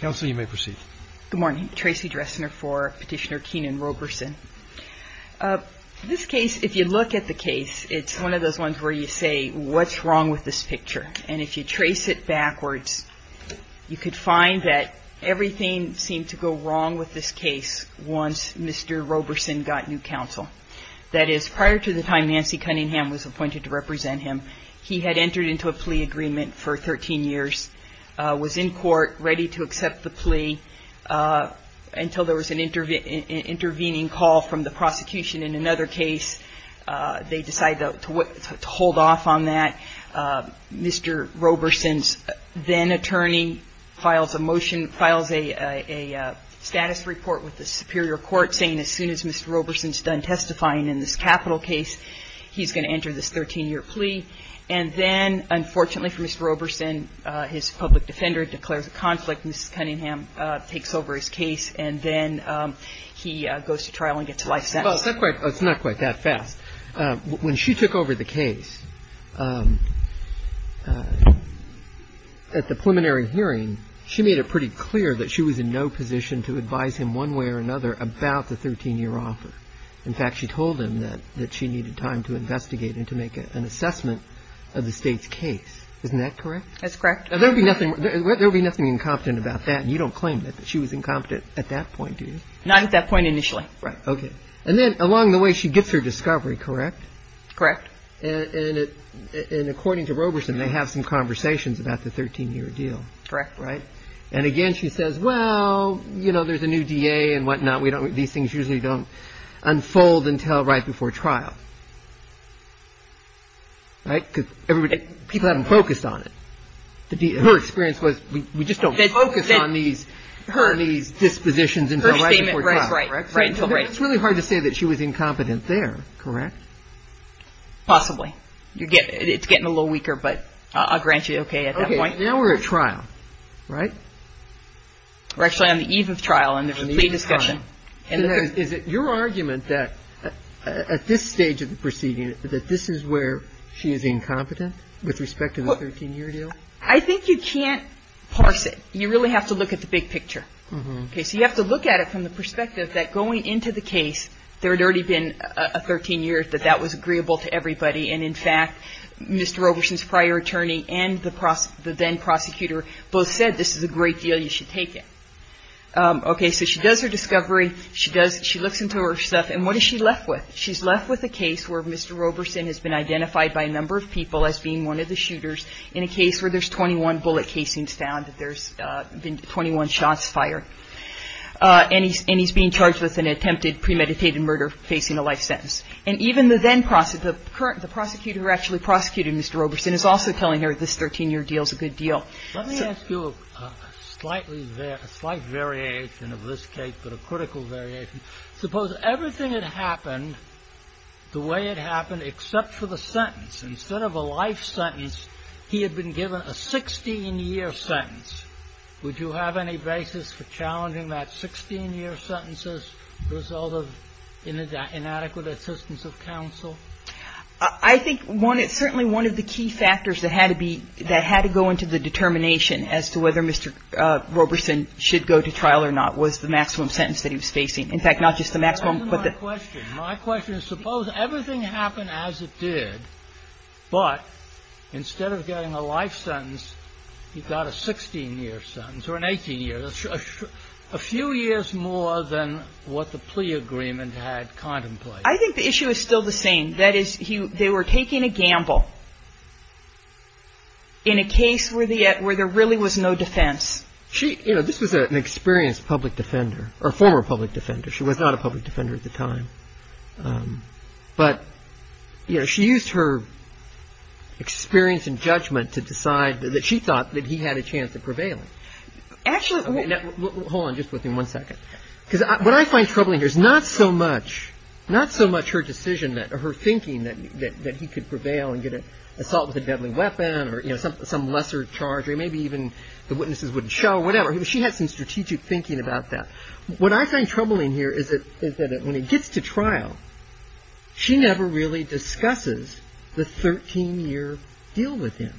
Good morning. Tracy Dressner for Petitioner Kenan-Roberson. This case, if you look at the case, it's one of those ones where you say, what's wrong with this picture? And if you trace it backwards, you could find that everything seemed to go wrong with this case once Mr. Roberson got new counsel. That is, prior to the time Nancy Cunningham was appointed to represent him, he had entered into a plea agreement for 13 years, was in court ready to accept the plea until there was an intervening call from the prosecution in another case. They decided to hold off on that. Mr. Roberson's then-attorney files a motion, files a status report with the Superior Court saying as soon as Mr. Roberson's done testifying in this capital case, he's going to enter this 13-year plea. And then, unfortunately for Mr. Roberson, his public defender declares a conflict and Mrs. Cunningham takes over his case, and then he goes to trial and gets a life sentence. Roberts. Well, it's not quite that fast. When she took over the case, at the preliminary hearing, she made it pretty clear that she was in no position to advise him one way or another about the 13-year offer. In fact, she told him that she needed time to investigate and to make an assessment of the State's case. Isn't that correct? That's correct. There would be nothing incompetent about that, and you don't claim that she was incompetent at that point, do you? Not at that point initially. Right. Okay. And then along the way, she gets her discovery, correct? Correct. And according to Roberson, they have some conversations about the 13-year deal. Correct. And again, she says, well, you know, there's a new DA and whatnot. These things usually don't unfold until right before trial. Right? Because people haven't focused on it. Her experience was, we just don't focus on these dispositions until right before trial. Right, right. It's really hard to say that she was incompetent there, correct? Possibly. It's getting a little weaker, but I'll grant you, okay, at that point. Okay. Now we're at trial, right? We're actually on the eve of trial and there's a plea discussion. And is it your argument that at this stage of the proceeding, that this is where she is incompetent with respect to the 13-year deal? I think you can't parse it. You really have to look at the big picture. Okay. So you have to look at it from the perspective that going into the case, there had already been a 13-year, that that was agreeable to everybody. And in fact, Mr. Roberson's prior attorney and the then-prosecutor both said, this is a great deal. You should take it. Okay. So she does her discovery. She looks into her stuff. And what is she left with? She's left with a case where Mr. Roberson has been identified by a number of people as being one of the shooters in a case where there's 21 bullet casings found, that there's been 21 shots fired. And he's being charged with an attempted premeditated murder facing a life sentence. And even the then-prosecutor, the current, the prosecutor who actually prosecuted Mr. Roberson, is also telling her this 13-year deal is a good deal. So let me ask you a slightly, a slight variation of this case, but a critical variation. Suppose everything had happened the way it happened except for the sentence. Instead of a life sentence, he had been given a 16-year sentence. Would you have any basis for challenging that 16-year sentence as a result of inadequate assistance of counsel? I think one of the, certainly one of the key factors that had to be, that had to go into the determination as to whether Mr. Roberson should go to trial or not was the maximum sentence that he was facing. In fact, not just the maximum, but the question. My question is, suppose everything happened as it did, but instead of getting a life sentence, he got a 16-year sentence, or an 18-year. A few years more than what the plea agreement had contemplated. I think the issue is still the same. That is, they were taking a gamble in a case where there really was no defense. She, you know, this was an experienced public defender, or former public defender. She was not a public defender at the time. But, you know, she used her experience and judgment to decide that she thought that he had a chance of prevailing. Actually, hold on just with me one second. Because what I find troubling here is not so much, not so much her decision that or her thinking that he could prevail and get an assault with a deadly weapon or, you know, some lesser charge, or maybe even the witnesses wouldn't show, whatever. She had some strategic thinking about that. What I find troubling here is that when he gets to trial, she never really discusses the 13-year deal with him.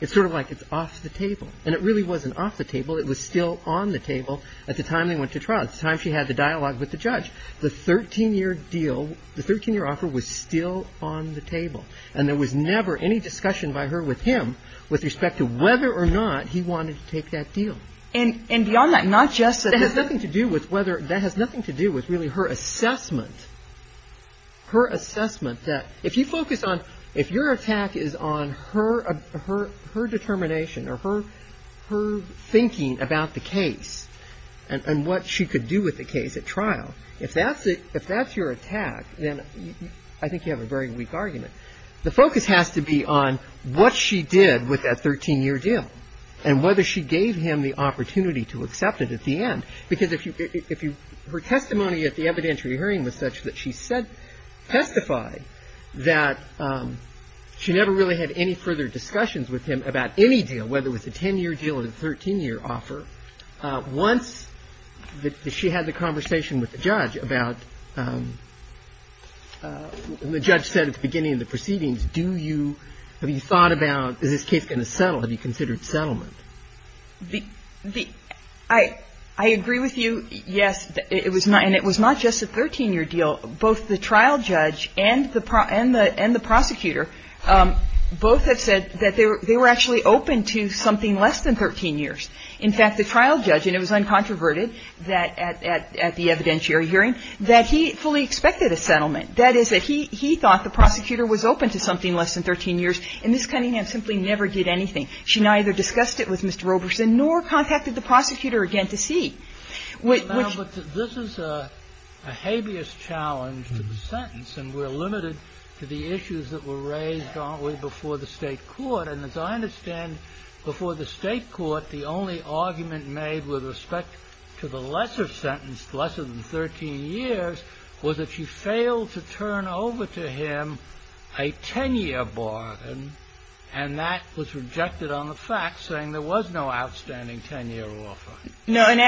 It's sort of like it's off the table. And it really wasn't off the table. It was still on the table at the time they went to trial, at the time she had the dialogue with the judge. The 13-year deal, the 13-year offer was still on the table. And there was never any discussion by her with him with respect to whether or not he wanted to take that deal. And beyond that, not just that it has nothing to do with whether, that has nothing to do with really her assessment, her assessment that if you focus on her determination or her thinking about the case and what she could do with the case at trial, if that's your attack, then I think you have a very weak argument. The focus has to be on what she did with that 13-year deal and whether she gave him the opportunity to accept it at the end, because if you – her testimony at the evidentiary hearing was such that she testified that she never really had any further discussions with him about any deal, whether it was a 10-year deal or a 13-year offer, once that she had the conversation with the judge about – the judge said at the beginning of the proceedings, do you – have you thought about is this case going to settle? Have you considered settlement? The – I agree with you, yes. It was not – and it was not just a 13-year deal. Both the trial judge and the prosecutor both have said that they were actually open to something less than 13 years. In fact, the trial judge – and it was uncontroverted at the evidentiary hearing – that he fully expected a settlement. That is, that he thought the prosecutor was open to something less than 13 years, and Ms. Cunningham simply never did anything. She neither discussed it with Mr. Roberson nor contacted the prosecutor again to see. Which – But, ma'am, but this is a habeas challenge to the sentence, and we're limited to the issues that were raised, aren't we, before the State court. And as I understand, before the State court, the only argument made with respect to the lesser sentence, less than 13 years, was that she failed to turn over to him a 10-year bargain. And that was rejected on the facts, saying there was no outstanding 10-year offer. No, and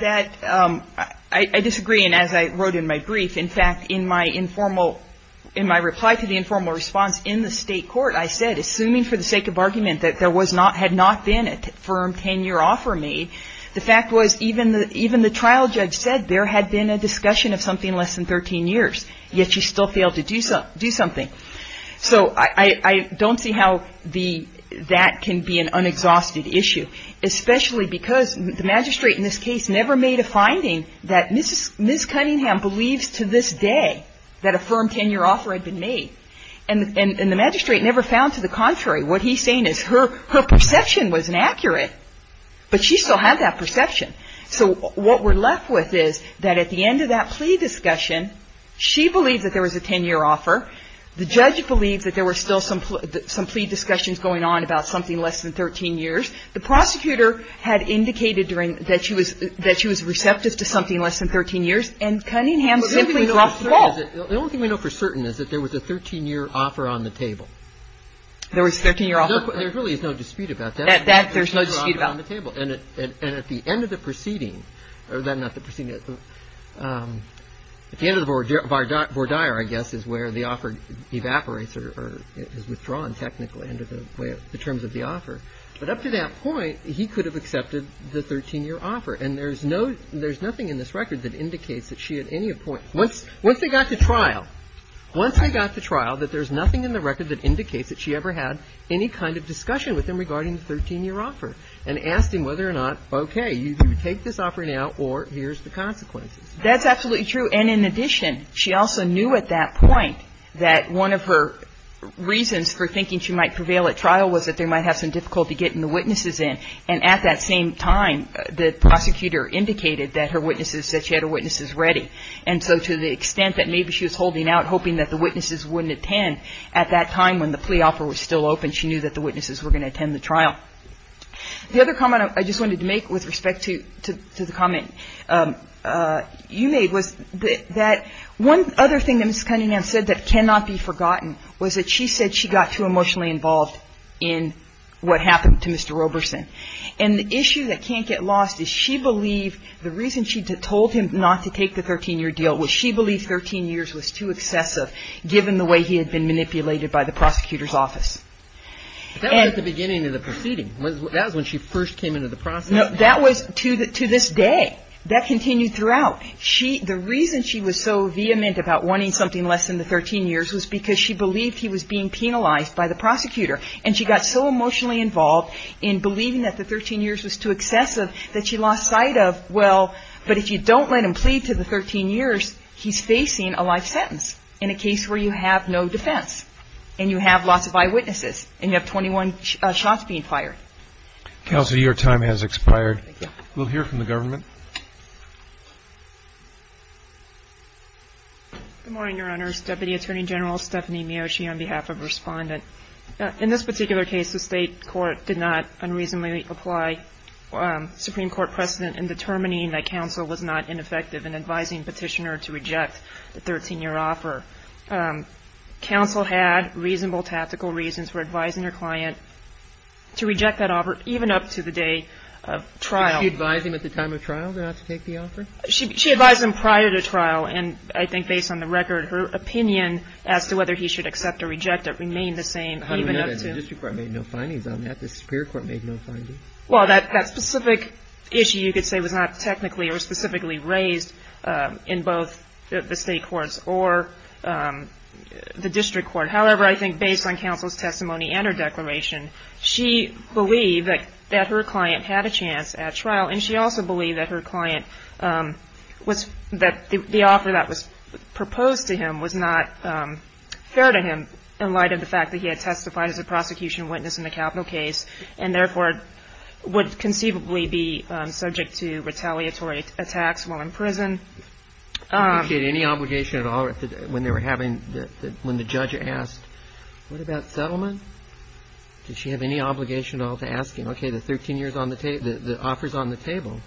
that – I disagree. And as I wrote in my brief, in fact, in my informal – in my reply to the informal response in the State court, I said, assuming for the sake of argument that there was not – had not been a firm 10-year offer made, the fact was even the trial judge said there had been a discussion of something less than 13 years, yet she still failed to do something. So I don't see how the – that can be an unexhausted issue, especially because the magistrate in this case never made a finding that Ms. Cunningham believes to this day that a firm 10-year offer had been made. And the magistrate never found to the contrary. What he's saying is her perception was inaccurate, but she still had that perception. So what we're left with is that at the end of that plea discussion, she believed that there was a 10-year offer. The judge believed that there were still some plea discussions going on about something less than 13 years. The prosecutor had indicated during – that she was – that she was receptive to something less than 13 years, and Cunningham simply dropped the ball. The only thing we know for certain is that there was a 13-year offer on the table. There was a 13-year offer. There really is no dispute about that. That there's no dispute about. There's no dispute on the table. And at the end of the proceeding – or not the proceeding. At the end of the voir dire, I guess, is where the offer evaporates or is withdrawn technically under the terms of the offer. But up to that point, he could have accepted the 13-year offer. And there's no – there's nothing in this record that indicates that she at any point – once they got to trial, once they got to trial that there's nothing in the record that indicates that she ever had any kind of discussion with him regarding the 13-year offer. And asked him whether or not, okay, you can take this offer now or here's the consequences. That's absolutely true. And in addition, she also knew at that point that one of her reasons for thinking she might prevail at trial was that they might have some difficulty getting the witnesses in. And at that same time, the prosecutor indicated that her witnesses – that she had her witnesses ready. And so to the extent that maybe she was holding out, hoping that the witnesses wouldn't attend, at that time when the plea offer was still open, she knew that the witnesses were going to attend the trial. The other comment I just wanted to make with respect to the comment you made was that one other thing that Ms. Cunningham said that cannot be forgotten was that she said she got too emotionally involved in what happened to Mr. Roberson. And the issue that can't get lost is she believed the reason she told him not to take the 13-year deal was she believed 13 years was too excessive, given the way he had been manipulated by the prosecutor's office. But that was at the beginning of the proceeding. That was when she first came into the process. No, that was to this day. That continued throughout. The reason she was so vehement about wanting something less than the 13 years was because she believed he was being penalized by the prosecutor. And she got so emotionally involved in believing that the 13 years was too excessive that she lost sight of, well, but if you don't let him plead to the 13 years, he's facing a life sentence in a case where you have no defense and you have lots of eyewitnesses and you have 21 shots being fired. Counsel, your time has expired. We'll hear from the government. Good morning, Your Honors. Deputy Attorney General Stephanie Miocci on behalf of Respondent. In this particular case, the state court did not unreasonably apply Supreme Court precedent in determining that counsel was not ineffective in advising petitioner to reject the 13-year offer. Counsel had reasonable tactical reasons for advising her client to reject that offer, even up to the day of trial. Did she advise him at the time of trial not to take the offer? She advised him prior to trial. And I think based on the record, her opinion as to whether he should accept or reject it remained the same even up to the trial. How do we know that? The district court made no findings on that. The superior court made no findings. Well, that specific issue, you could say, was not technically or specifically raised in both the state courts or the district court. However, I think based on counsel's testimony and her declaration, she believed that her client had a chance at trial. And she also believed that the offer that was proposed to him was not fair to him in light of the fact that he had testified as a prosecution witness in the capital case and therefore would conceivably be subject to retaliatory attacks while in prison. Did she have any obligation at all when the judge asked, what about settlement? Did she have any obligation at all to ask him, okay, the offer's on the table?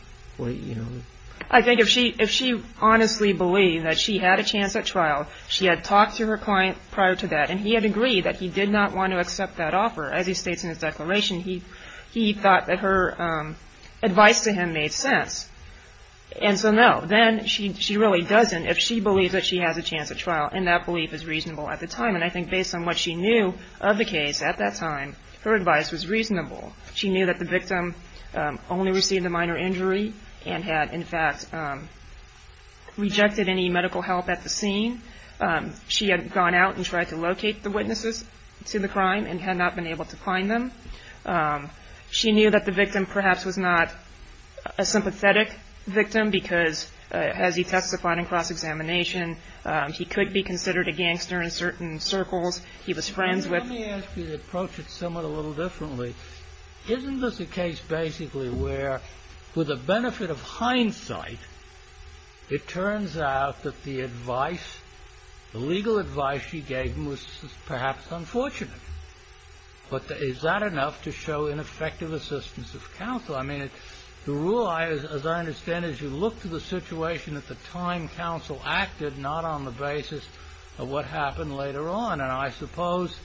I think if she honestly believed that she had a chance at trial, she had talked to her client prior to that, and he had agreed that he did not want to accept that offer. As he states in his declaration, he thought that her advice to him made sense. And so, no, then she really doesn't if she believes that she has a chance at trial, and that belief is reasonable at the time. And I think based on what she knew of the case at that time, her advice was reasonable. She knew that the victim only received a minor injury and had, in fact, rejected any medical help at the scene. She had gone out and tried to locate the witnesses to the crime and had not been able to find them. She knew that the victim perhaps was not a sympathetic victim because as he testified in cross-examination, he could be considered a gangster in certain circles he was friends with. Let me ask you to approach it somewhat a little differently. It turns out that the legal advice she gave him was perhaps unfortunate. But is that enough to show ineffective assistance of counsel? I mean, the rule, as I understand it, is you look to the situation at the time counsel acted, not on the basis of what happened later on. And I suppose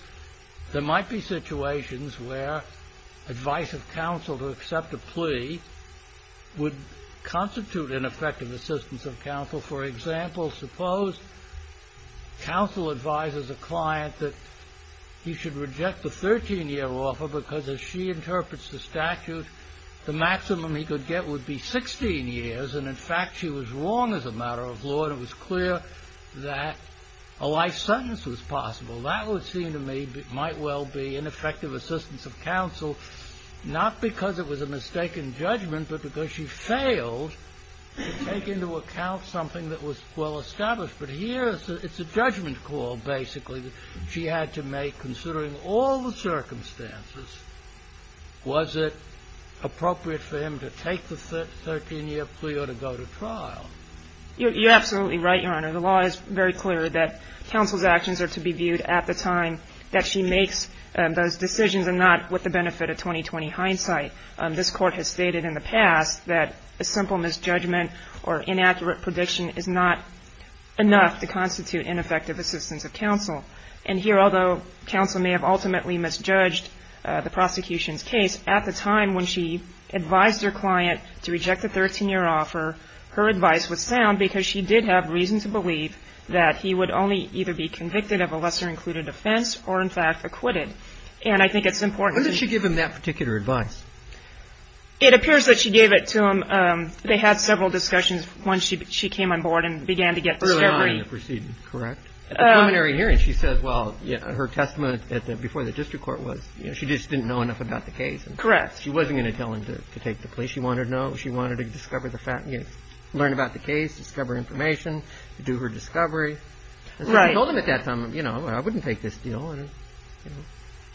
there might be situations where advice of counsel to accept a plea would constitute ineffective assistance of counsel. For example, suppose counsel advises a client that he should reject the 13-year offer because as she interprets the statute, the maximum he could get would be 16 years. And in fact, she was wrong as a matter of law, and it was clear that a life sentence was possible. That would seem to me might well be ineffective assistance of counsel, not because it was a mistaken judgment, but because she failed to take into account something that was well established. But here it's a judgment call, basically, that she had to make considering all the circumstances. Was it appropriate for him to take the 13-year plea or to go to trial? You're absolutely right, Your Honor. The law is very clear that counsel's actions are to be viewed at the time that she makes those decisions and not with the benefit of 20-20 hindsight. This Court has stated in the past that a simple misjudgment or inaccurate prediction is not enough to constitute ineffective assistance of counsel. And here, although counsel may have ultimately misjudged the prosecution's case, at the time when she advised her client to reject the 13-year offer, that he would only either be convicted of a lesser-included offense or, in fact, acquitted. And I think it's important that she give him that particular advice. It appears that she gave it to him. They had several discussions once she came on board and began to get discovery. At the preliminary hearing, she said, well, her testament before the district court was, you know, she just didn't know enough about the case. Correct. She wasn't going to tell him to take the plea. She wanted to know. She wanted to discover the facts, learn about the case, discover information, do her discovery. So she told him at that time, you know, I wouldn't take this deal.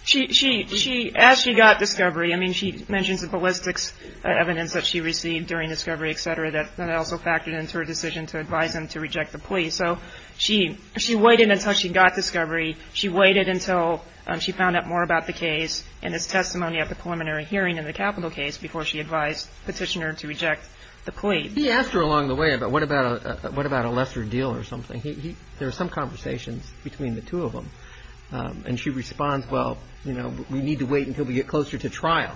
She actually got discovery. I mean, she mentions the ballistics evidence that she received during discovery, et cetera, that also factored into her decision to advise him to reject the plea. So she waited until she got discovery. She waited until she found out more about the case and his testimony at the preliminary hearing in the capital case before she advised the petitioner to reject the plea. He asked her along the way about what about a lesser deal or something. There were some conversations between the two of them. And she responds, well, you know, we need to wait until we get closer to trial.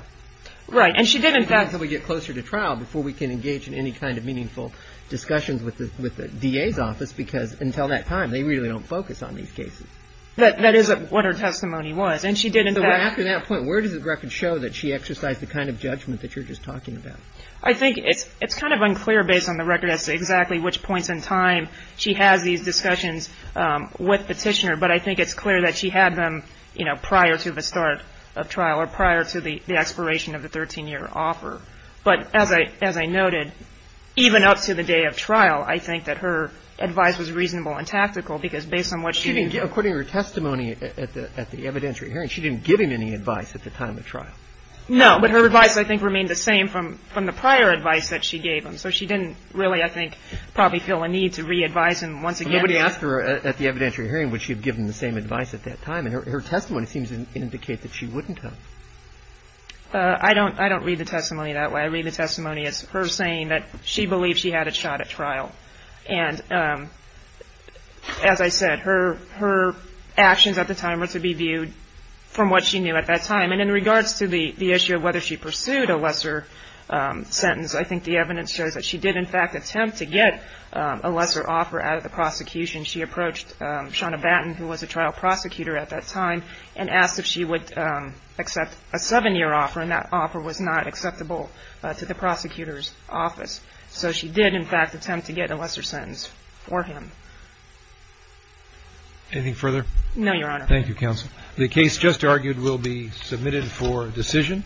Right. And she did, in fact. Until we get closer to trial before we can engage in any kind of meaningful discussions with the DA's office because until that time, they really don't focus on these cases. That is what her testimony was. And she did, in fact. So after that point, where does the record show that she exercised the kind of judgment that you're just talking about? I think it's kind of unclear based on the record as to exactly which points in time she has these discussions with petitioner. But I think it's clear that she had them, you know, prior to the start of trial or prior to the expiration of the 13-year offer. But as I noted, even up to the day of trial, I think that her advice was reasonable and tactical because based on what she did. According to her testimony at the evidentiary hearing, she didn't give him any advice at the time of trial. No, but her advice, I think, remained the same from the prior advice that she gave him. So she didn't really, I think, probably feel a need to re-advise him once again. Nobody asked her at the evidentiary hearing would she have given the same advice at that time. And her testimony seems to indicate that she wouldn't have. I don't read the testimony that way. I read the testimony as her saying that she believed she had a shot at trial. And as I said, her actions at the time were to be viewed from what she knew at that time. And in regards to the issue of whether she pursued a lesser sentence, I think the evidence shows that she did, in fact, attempt to get a lesser offer out of the prosecution. She approached Shauna Batten, who was a trial prosecutor at that time, and asked if she would accept a 7-year offer. And that offer was not acceptable to the prosecutor's office. So she did, in fact, attempt to get a lesser sentence for him. No, Your Honor. Thank you, Counsel. The case just argued will be submitted for decision.